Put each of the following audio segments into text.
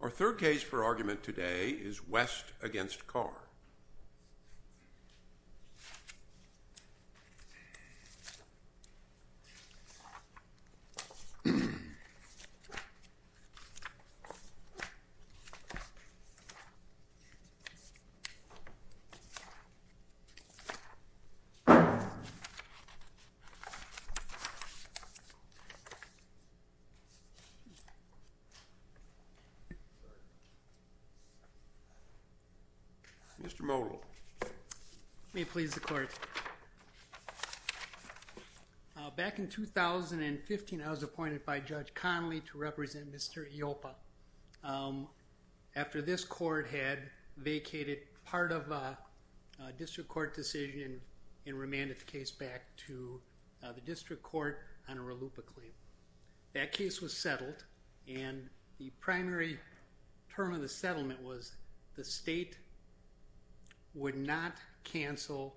Our third case for argument today is West v. Carr. Back in 2015, I was appointed by Judge Connolly to represent Mr. Ioppa after this court had vacated part of a district court decision and remanded the case back to the district court on a RLUIPA claim. That case was settled and the primary term of the settlement was the state would not cancel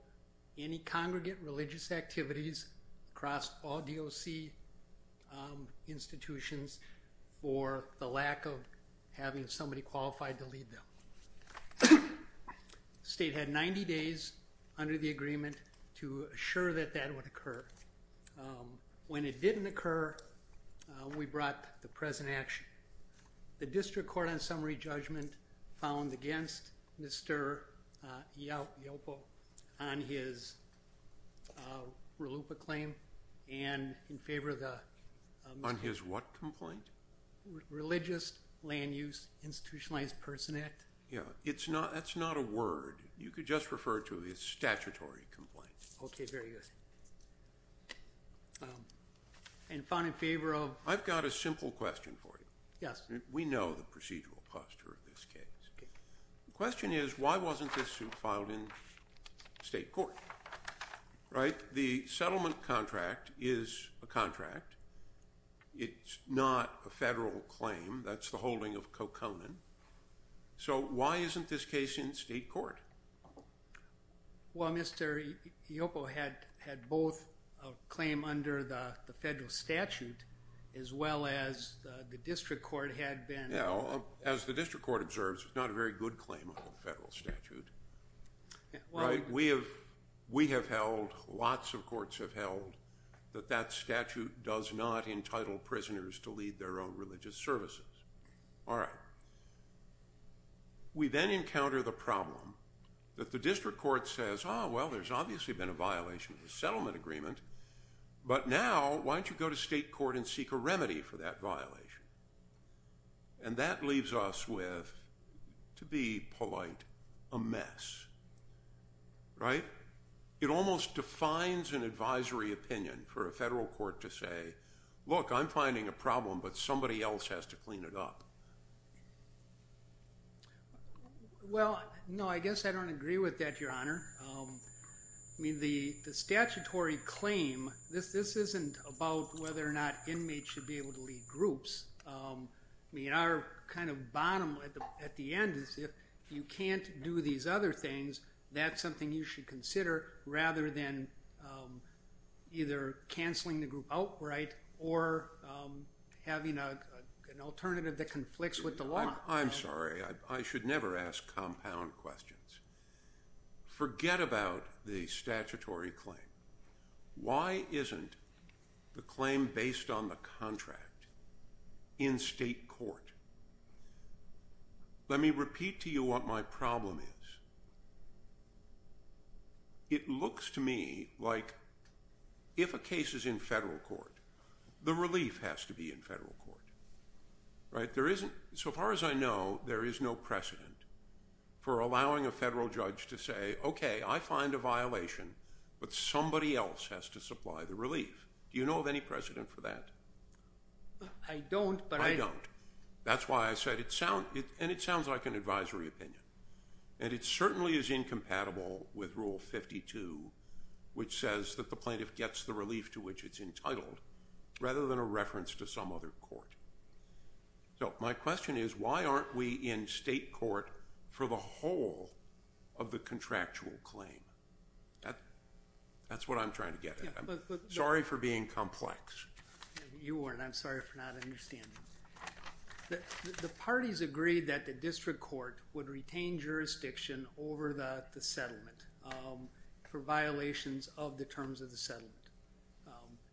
any congregate religious activities across all DOC institutions for the lack of having somebody qualified to lead them. The state had 90 days under the agreement to assure that that would occur. When it didn't occur, we brought the present action. The district court on summary judgment found against Mr. Ioppa on his RLUIPA claim and in favor of the... On his what complaint? Religious Land Use Institutionalized Person Act. Yeah, it's not that's not a word. You could just refer to his statutory complaint. Okay, very good. And found in favor of... I've got a simple question for you. Yes. We know the procedural posture of this case. The question is why wasn't this suit filed in state court, right? The settlement contract is a contract. It's not a federal claim. That's the holding of Well, Mr. Ioppa had both a claim under the federal statute as well as the district court had been... As the district court observes, it's not a very good claim under the federal statute. We have held, lots of courts have held, that that statute does not entitle prisoners to lead their own religious services. All right. We then encounter the problem that the district court says, oh well there's obviously been a violation of the settlement agreement, but now why don't you go to state court and seek a remedy for that violation? And that leaves us with, to be polite, a mess. Right? It almost defines an advisory opinion for a federal court to say, look I'm finding a problem but somebody else has to clean it up. Well, no I guess I don't agree with that, your honor. I mean the statutory claim, this isn't about whether or not inmates should be able to lead groups. I mean our kind of bottom at the end is if you can't do these other things, that's something you should consider rather than either canceling the alternative that conflicts with the law. I'm sorry, I should never ask compound questions. Forget about the statutory claim. Why isn't the claim based on the contract in state court? Let me repeat to you what my problem is. It looks to me like if a case is in federal court, the relief has to be in federal court. Right? There isn't, so far as I know, there is no precedent for allowing a federal judge to say, okay I find a violation but somebody else has to supply the relief. Do you know of any precedent for that? I don't, but I don't. That's why I said it sounds, and it sounds like an advisory opinion, and it certainly is says that the plaintiff gets the relief to which it's entitled rather than a reference to some other court. So my question is why aren't we in state court for the whole of the contractual claim? That's what I'm trying to get at. I'm sorry for being complex. You weren't, I'm sorry for not understanding. The parties agreed that the district court would retain jurisdiction over the terms of the settlement.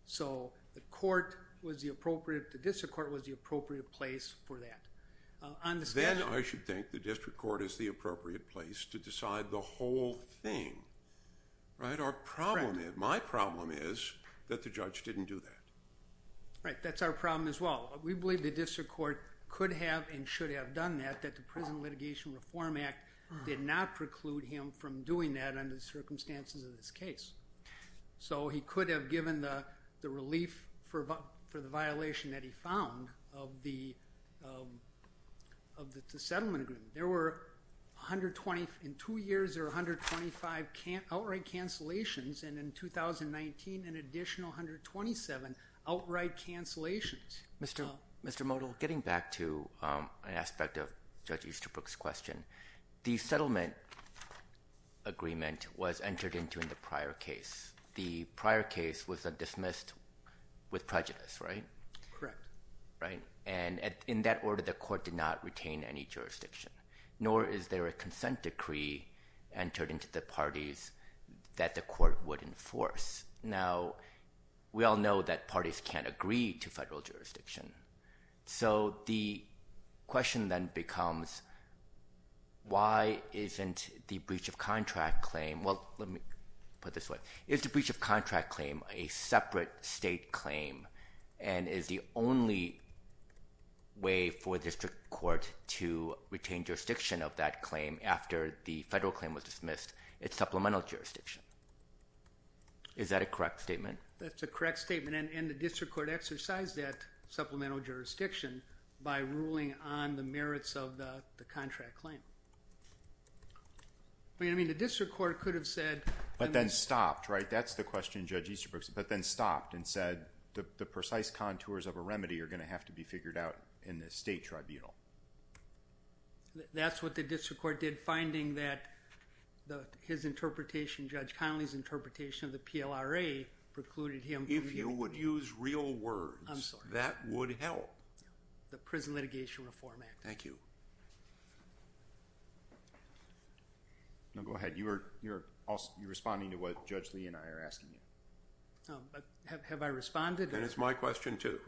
So the court was the appropriate, the district court was the appropriate place for that. Then I should think the district court is the appropriate place to decide the whole thing. Right? Our problem, my problem is that the judge didn't do that. Right, that's our problem as well. We believe the district court could have and should have done that, that the Prison Litigation Reform Act did not preclude him from doing that under the So he could have given the relief for the violation that he found of the settlement agreement. There were 120, in two years there were 125 outright cancellations and in 2019 an additional 127 outright cancellations. Mr. Modell, getting back to an aspect of Judge Easterbrook's question, the prior case was a dismissed with prejudice, right? Correct. Right, and in that order the court did not retain any jurisdiction, nor is there a consent decree entered into the parties that the court would enforce. Now we all know that parties can't agree to federal jurisdiction, so the question then becomes why isn't the breach of contract claim, well let me put this way, is to breach of contract claim a separate state claim and is the only way for district court to retain jurisdiction of that claim after the federal claim was dismissed, it's supplemental jurisdiction. Is that a correct statement? That's a correct statement and the district court exercised that supplemental jurisdiction by ruling on the merits of the contract claim. I mean the district court could have said. But then stopped, right? That's the question Judge Easterbrook, but then stopped and said the precise contours of a remedy are going to have to be figured out in the state tribunal. That's what the district court did, finding that his interpretation, Judge Connolly's interpretation of the PLRA precluded him. If you would use real words, that would help. The Prison Litigation Reform Act. Thank you. Now go ahead, you're responding to what Judge Lee and I are asking you. Have I responded? That is my question too.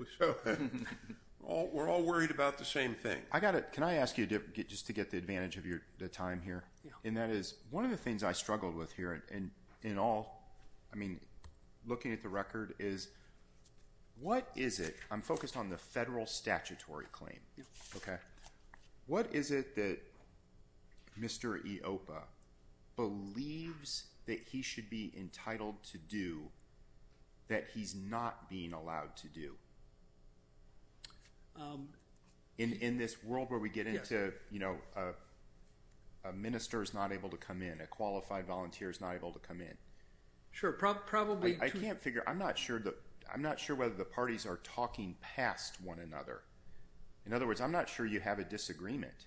We're all worried about the same thing. I got it, can I ask you to get just to get the advantage of your time here, and that is one of the things I struggled with here and in all, I mean focused on the federal statutory claim. Okay, what is it that Mr. Ioppa believes that he should be entitled to do that he's not being allowed to do? In this world where we get into, you know, a minister is not able to come in, a qualified volunteer is not able to come in. Sure, probably. I can't figure, I'm not sure whether the parties are talking past one another. In other words, I'm not sure you have a disagreement.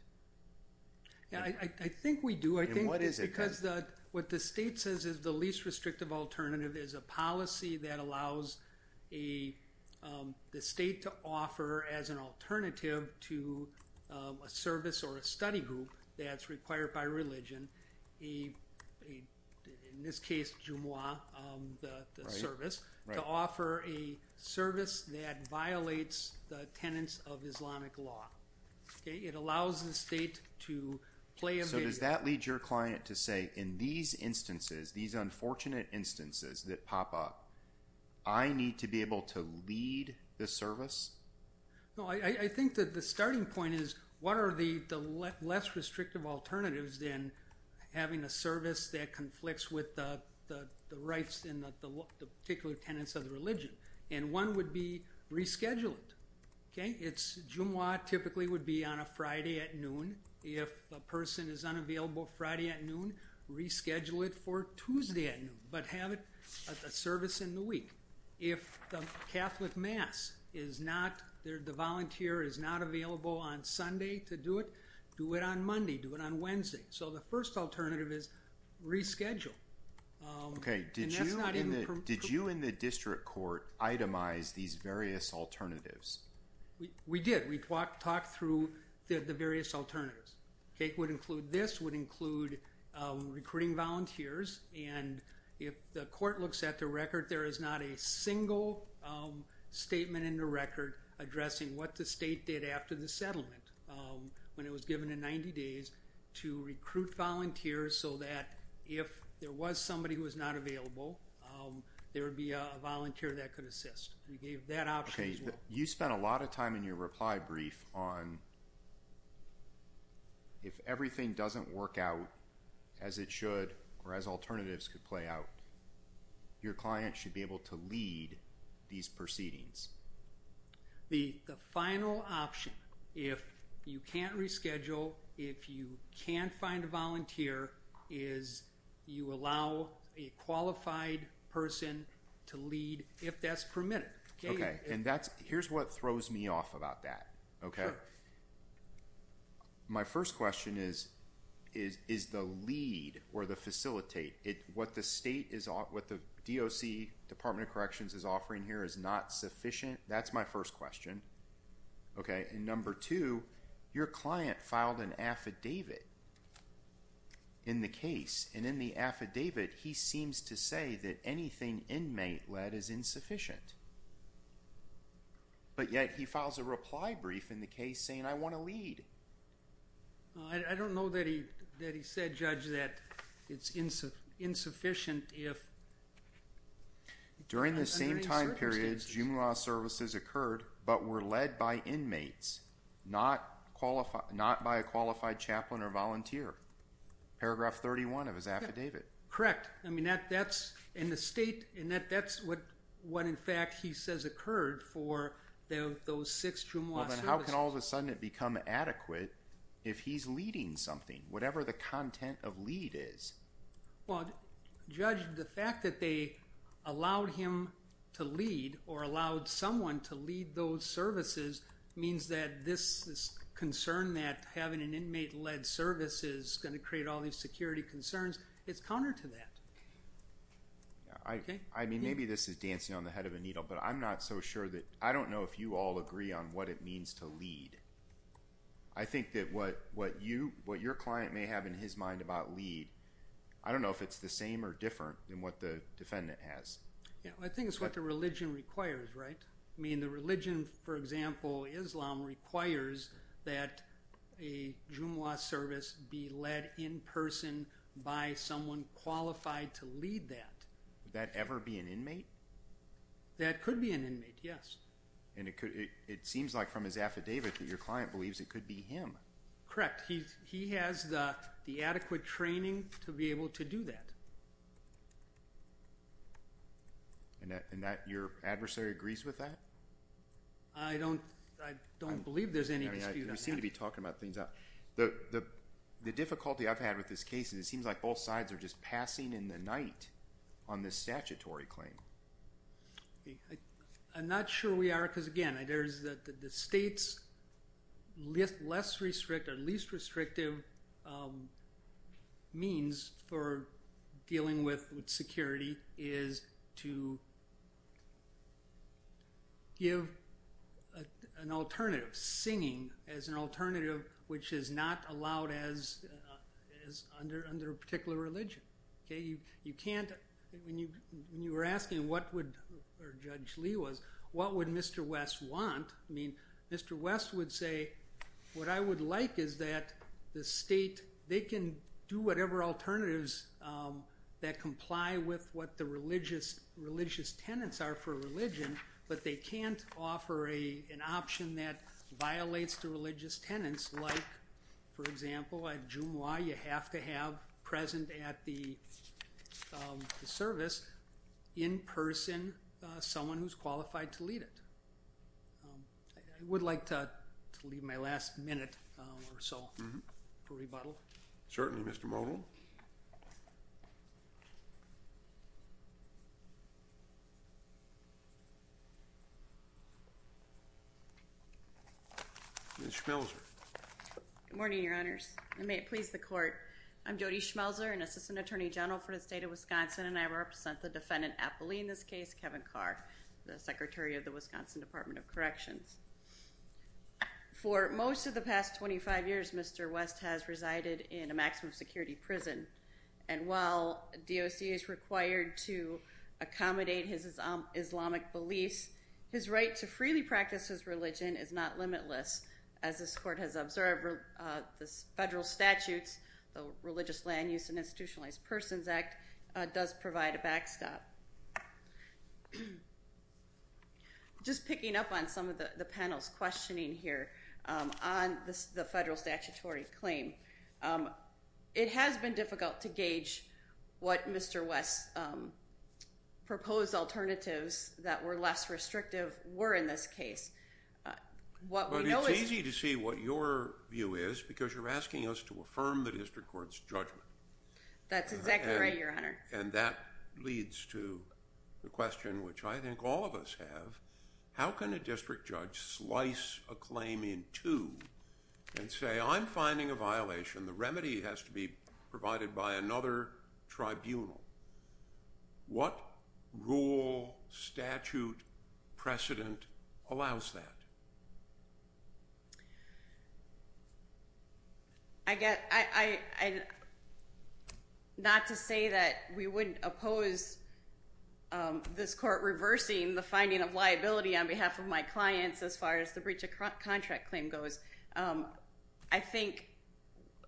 Yeah, I think we do. I think what is it because that what the state says is the least restrictive alternative is a policy that allows the state to offer as an alternative to a service or a study group that's required by religion, in this case Jumu'ah, the service, to offer a service that violates the tenets of Islamic law. It allows the state to play a major role. So does that lead your client to say in these instances, these unfortunate instances that pop up, I need to be able to lead the service? No, I think that the restrictive alternatives then having a service that conflicts with the rights and the particular tenets of the religion and one would be reschedule it. Okay, it's Jumu'ah typically would be on a Friday at noon. If a person is unavailable Friday at noon, reschedule it for Tuesday at noon but have it a service in the week. If the Catholic Mass is not there, the volunteer is not available on Monday, do it on Wednesday. So the first alternative is reschedule. Okay, did you in the district court itemize these various alternatives? We did. We talked through the various alternatives. It would include this, would include recruiting volunteers and if the court looks at the record, there is not a single statement in the record addressing what the state did after the days to recruit volunteers so that if there was somebody who was not available, there would be a volunteer that could assist. We gave that option. You spent a lot of time in your reply brief on if everything doesn't work out as it should or as alternatives could play out, your client should be able to lead these If you can't find a volunteer, is you allow a qualified person to lead if that's permitted? Okay, and that's here's what throws me off about that. Okay, my first question is, is the lead or the facilitate it what the state is on what the DOC, Department of Corrections, is offering here is not sufficient? That's my first question. Okay, and number two, your client filed an affidavit in the case and in the affidavit, he seems to say that anything inmate-led is insufficient, but yet he files a reply brief in the case saying I want to lead. I don't know that he said, Judge, that it's insufficient if... but were led by inmates, not by a qualified chaplain or volunteer. Paragraph 31 of his affidavit. Correct. I mean, that's in the state and that's what in fact he says occurred for those six jumuah services. Then how can all of a sudden it become adequate if he's leading something, whatever the content of lead is? Well, Judge, the fact that they allowed him to lead or allowed someone to lead those services means that this concern that having an inmate-led service is going to create all these security concerns, it's counter to that. I mean, maybe this is dancing on the head of a needle, but I'm not so sure that... I don't know if you all agree on what it means to lead. I think that what your client may have in his mind about lead, I don't know if it's the same or different than what the defendant has. Yeah, I think it's what the religion requires, right? I mean, the religion, for example, Islam, requires that a jumuah service be led in person by someone qualified to lead that. Would that ever be an inmate? That could be an inmate, yes. And it could... it seems like from his affidavit that your client believes it could be him. Correct. He has the adequate training to be able to do that. And that your adversary agrees with that? I don't believe there's any dispute on that. We seem to be talking about things. The difficulty I've had with this case is it seems like both sides are just passing in the night on this statutory claim. I'm not sure we are because, again, the state's less restrictive or least restrictive means for dealing with security is to give an alternative, singing as an alternative, which is not allowed under a particular religion, okay? You can't... when you were asking what would, or Judge Lee was, what would Mr. West want, I mean, Mr. West would say, what I would like is that the state, they can do whatever alternatives that comply with what the religious tenets are for religion, but they can't offer an option that violates the religious tenets, like, for example, a jumuah you have to have present at the service, in person, someone who's qualified to lead it. I would like to leave my last minute or so for rebuttal. Certainly, Mr. Modell. Ms. Schmelzer. Good morning, Your Honors, and may it please the court. I'm Jody Rupp, sent the defendant appellee in this case, Kevin Carr, the Secretary of the Wisconsin Department of Corrections. For most of the past 25 years, Mr. West has resided in a maximum-security prison, and while DOC is required to accommodate his Islamic beliefs, his right to freely practice his religion is not limitless. As this court has observed, the federal statutes, the Religious Land Use and Institutionalized Persons Act, does provide a backstop. Just picking up on some of the panel's questioning here on the federal statutory claim, it has been difficult to gauge what Mr. West's proposed alternatives that were less restrictive were in this case. It's easy to see what your view is, because you're asking us to affirm the district court's judgment. That's exactly right, Your Honor. And that leads to the question, which I think all of us have, how can a district judge slice a claim in two and say, I'm finding a violation, the remedy has to be provided by another tribunal? What rule, statute, precedent allows that? Not to say that we wouldn't oppose this court reversing the finding of liability on behalf of my clients as far as the breach of contract claim goes. I think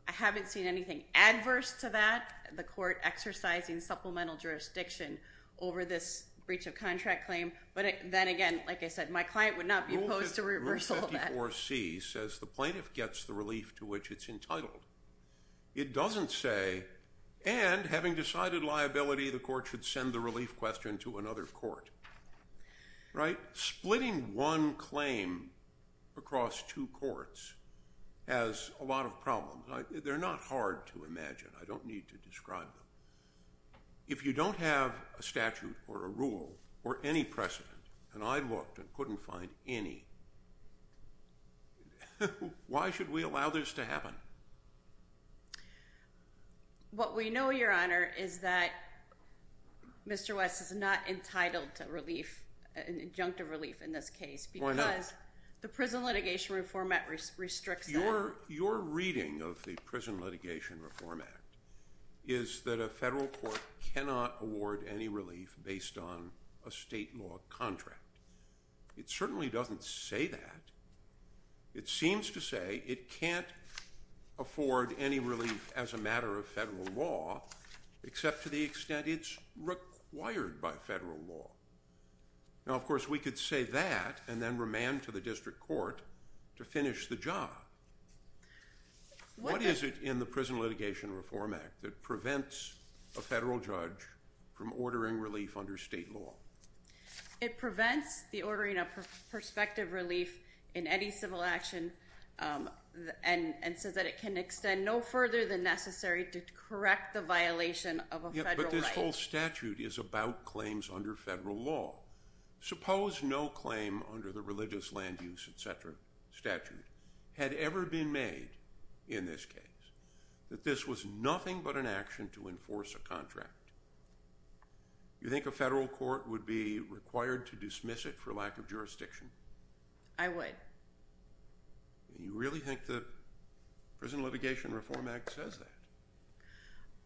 I haven't seen anything adverse to that, the court exercising supplemental jurisdiction over this breach of contract claim, but then again, like I said, my client would not be opposed to reversal of that. Rule 54C says the plaintiff gets the relief to which it's entitled. It doesn't say, and having decided liability, the court should send the relief question to another court. Right? Splitting one claim across two courts has a lot of problems. They're not hard to imagine. I don't need to describe them. If you don't have a statute or a precedent, and I looked and couldn't find any, why should we allow this to happen? What we know, your honor, is that Mr. West is not entitled to relief, an injunctive relief in this case, because the Prison Litigation Reform Act restricts that. Your reading of the Prison Litigation Reform Act is that a contract. It certainly doesn't say that. It seems to say it can't afford any relief as a matter of federal law, except to the extent it's required by federal law. Now, of course, we could say that and then remand to the district court to finish the job. What is it in the Prison Litigation Reform Act that prevents a It prevents the ordering of perspective relief in any civil action and says that it can extend no further than necessary to correct the violation of a federal right. But this whole statute is about claims under federal law. Suppose no claim under the religious land use, etc. statute had ever been made in this case, that this was nothing but an action to enforce a contract. You think a federal court would be required to dismiss it for lack of jurisdiction? I would. You really think the Prison Litigation Reform Act says that?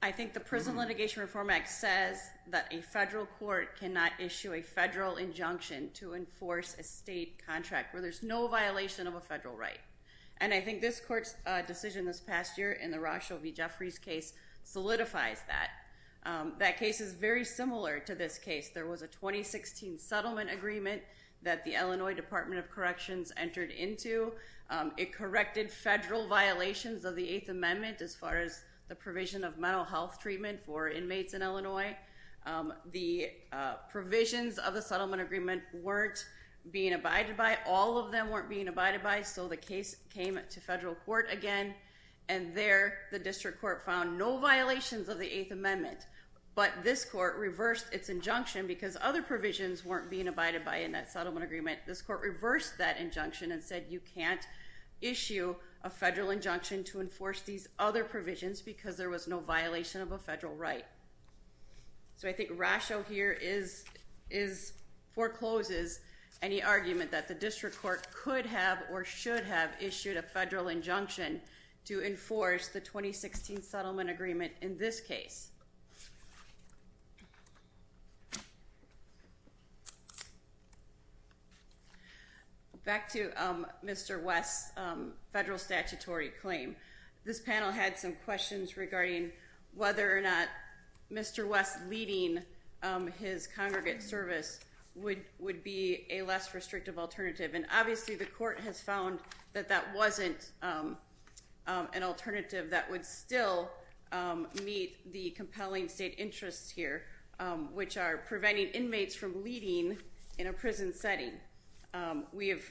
I think the Prison Litigation Reform Act says that a federal court cannot issue a federal injunction to enforce a state contract where there's no violation of a federal right. And I think this court's decision this past year in the Rochelle v. Jeffries case solidifies that. That case is very similar to this case. There was a 2016 settlement agreement that the Illinois Department of Corrections entered into. It corrected federal violations of the Eighth Amendment as far as the provision of mental health treatment for inmates in Illinois. The provisions of the settlement agreement weren't being abided by. All of them weren't being abided by. So the case came to federal court again and there the district court found no violations of the Eighth Amendment. But this court reversed its injunction because other provisions weren't being abided by in that settlement agreement. This court reversed that injunction and said you can't issue a federal injunction to enforce these other provisions because there was no violation of a federal right. So I think Rochelle here forecloses any argument that the district court could have or should have issued a federal injunction to enforce the 2016 settlement agreement in this case. Back to Mr. West's federal statutory claim. This panel had some questions regarding whether or not Mr. West leading his congregate service would would be a less an alternative that would still meet the compelling state interests here which are preventing inmates from leading in a prison setting. We have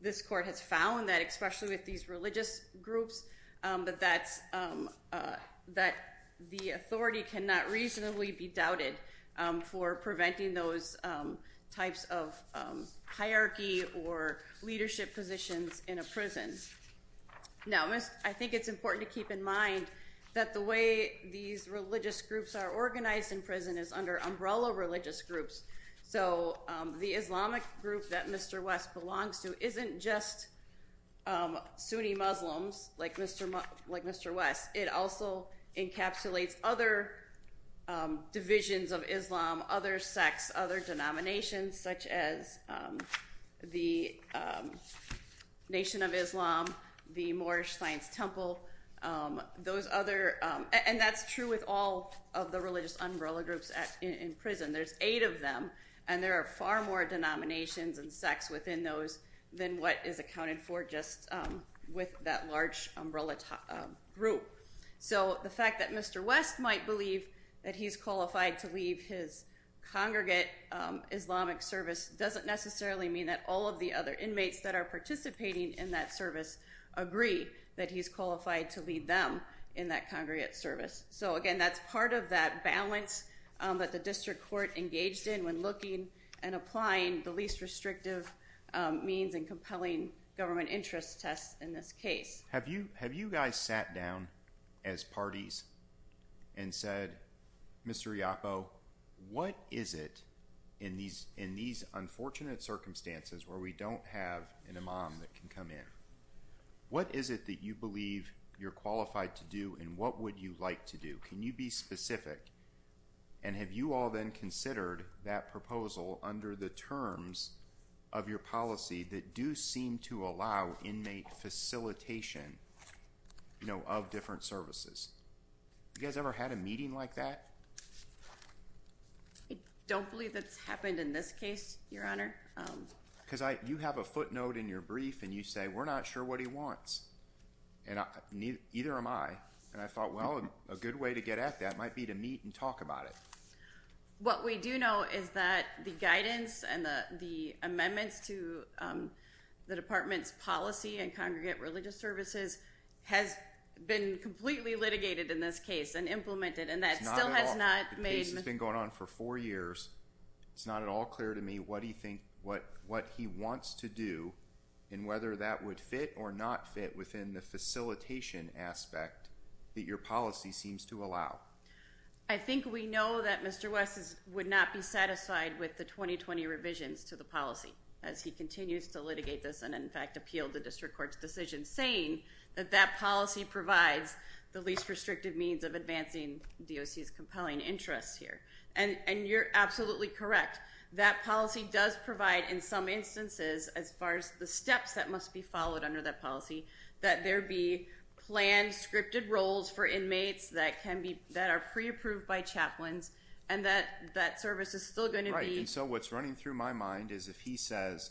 this court has found that especially with these religious groups but that's that the authority cannot reasonably be doubted for preventing those types of hierarchy or leadership positions in a prison. Now I think it's important to keep in mind that the way these religious groups are organized in prison is under umbrella religious groups. So the Islamic group that Mr. West belongs to isn't just Sunni Muslims like Mr. West. It also encapsulates other divisions of Islam, other sects, other denominations such as the Nation of Islam, the Moorish Science Temple, those other and that's true with all of the religious umbrella groups at in prison. There's eight of them and there are far more denominations and sects within those than what is accounted for just with that large umbrella group. So the fact that Mr. West might believe that he's qualified to lead his congregate Islamic service doesn't necessarily mean that all of the other inmates that are participating in that service agree that he's qualified to lead them in that congregate service. So again that's part of that balance that the district court engaged in when looking and applying the least restrictive means and compelling government interest tests in this case. Have you guys sat down as parties and said Mr. Iappo what is it in these unfortunate circumstances where we don't have an imam that can come in? What is it that you believe you're qualified to do and what would you like to do? Can you be specific and have you all then considered that proposal under the terms of your policy that do seem to allow inmate facilitation of different services? You guys ever had a meeting like that? I don't believe that's happened in this case your honor. Because you have a footnote in your brief and you say we're not sure what he wants and neither am I and I thought well a good way to get at that might be to meet and talk about it. What we do know is that the guidance and the the amendments to the department's policy and congregate religious services has been completely litigated in this case and implemented and that still has not been going on for four years. It's not at all clear to me what do you think what what he wants to do and whether that would fit or not fit within the facilitation aspect that your policy seems to allow. I think we know that Mr. West would not be satisfied with the 2020 revisions to the policy as he continues to litigate this and in fact appealed the district court's decision saying that that policy provides the least restrictive means of advancing DOC's compelling interests here and and you're absolutely correct. That policy does provide in some instances as far as the steps that must be followed under that policy that there be planned roles for inmates that can be that are pre-approved by chaplains and that that service is still going to be. So what's running through my mind is if he says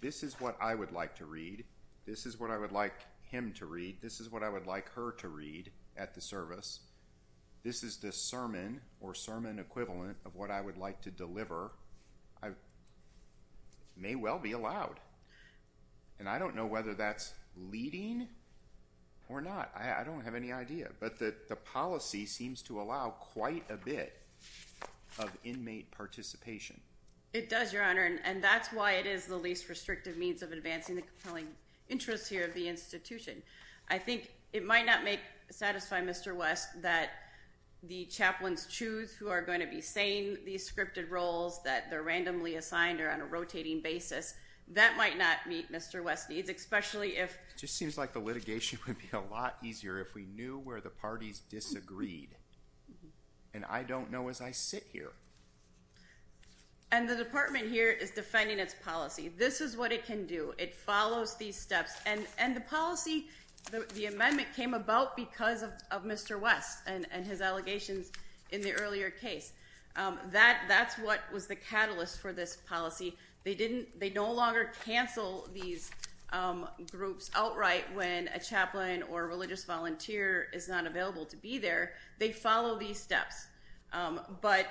this is what I would like to read this is what I would like him to read this is what I would like her to read at the service this is the sermon or sermon equivalent of what I would like to deliver I may well be allowed and I don't know whether that's leading or not I don't have any idea but that the policy seems to allow quite a bit of inmate participation. It does your honor and that's why it is the least restrictive means of advancing the compelling interests here of the institution. I think it might not make satisfy Mr. West that the chaplains choose who are going to be saying these scripted roles that they're randomly assigned or on a rotating basis that might not meet Mr. West needs especially if just seems like the litigation would be a lot easier if we knew where the parties disagreed and I don't know as I sit here. And the department here is defending its policy this is what it can do it follows these steps and and the policy the amendment came about because of Mr. West and and his allegations in the earlier case that that's what was the catalyst for this policy they didn't they no longer cancel these groups outright when a chaplain or religious volunteer is not available to be there they follow these steps but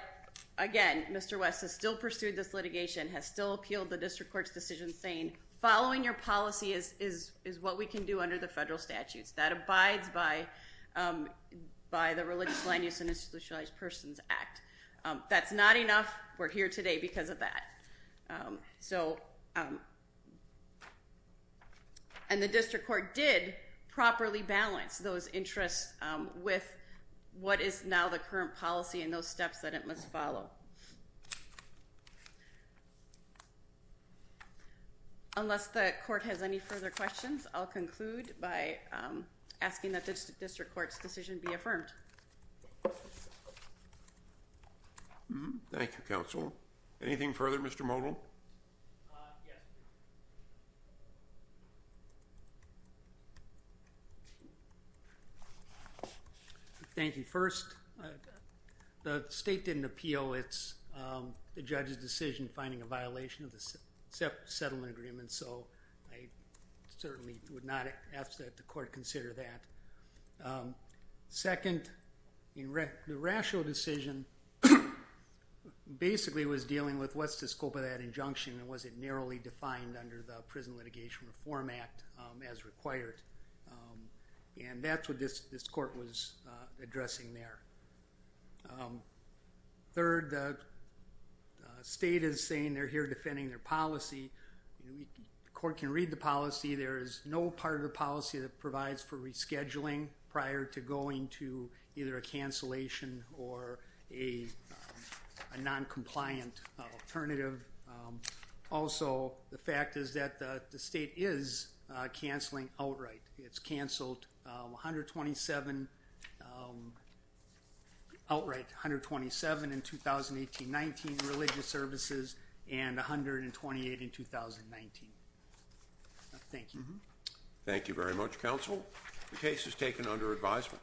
again Mr. West has still pursued this litigation has still appealed the district court's decision saying following your policy is is is what we can do under the federal statutes that abides by by the religious land use and institutionalized persons act. That's not enough we're here today because of that so and the district court did properly balance those interests with what is now the current policy and those steps that it must follow. Unless the court has any further questions I'll conclude by asking that this district court's decision be affirmed. Thank you counsel. Anything further Mr. Modell? Thank you. First the state didn't appeal it's the judge's decision finding a violation of the settlement agreement so I certainly would not ask that the court consider that. Second in the rational decision basically was dealing with what's the scope of that injunction and was it narrowly defined under the Prison Litigation Reform Act as required and that's what this this court was addressing there. Third the state is saying they're here defending their policy there is no part of the policy that provides for rescheduling prior to going to either a cancellation or a non-compliant alternative. Also the fact is that the state is canceling outright. It's canceled 127 outright 127 in 2018- 2019. Thank you. Thank you very much counsel. The case is taken under advisement.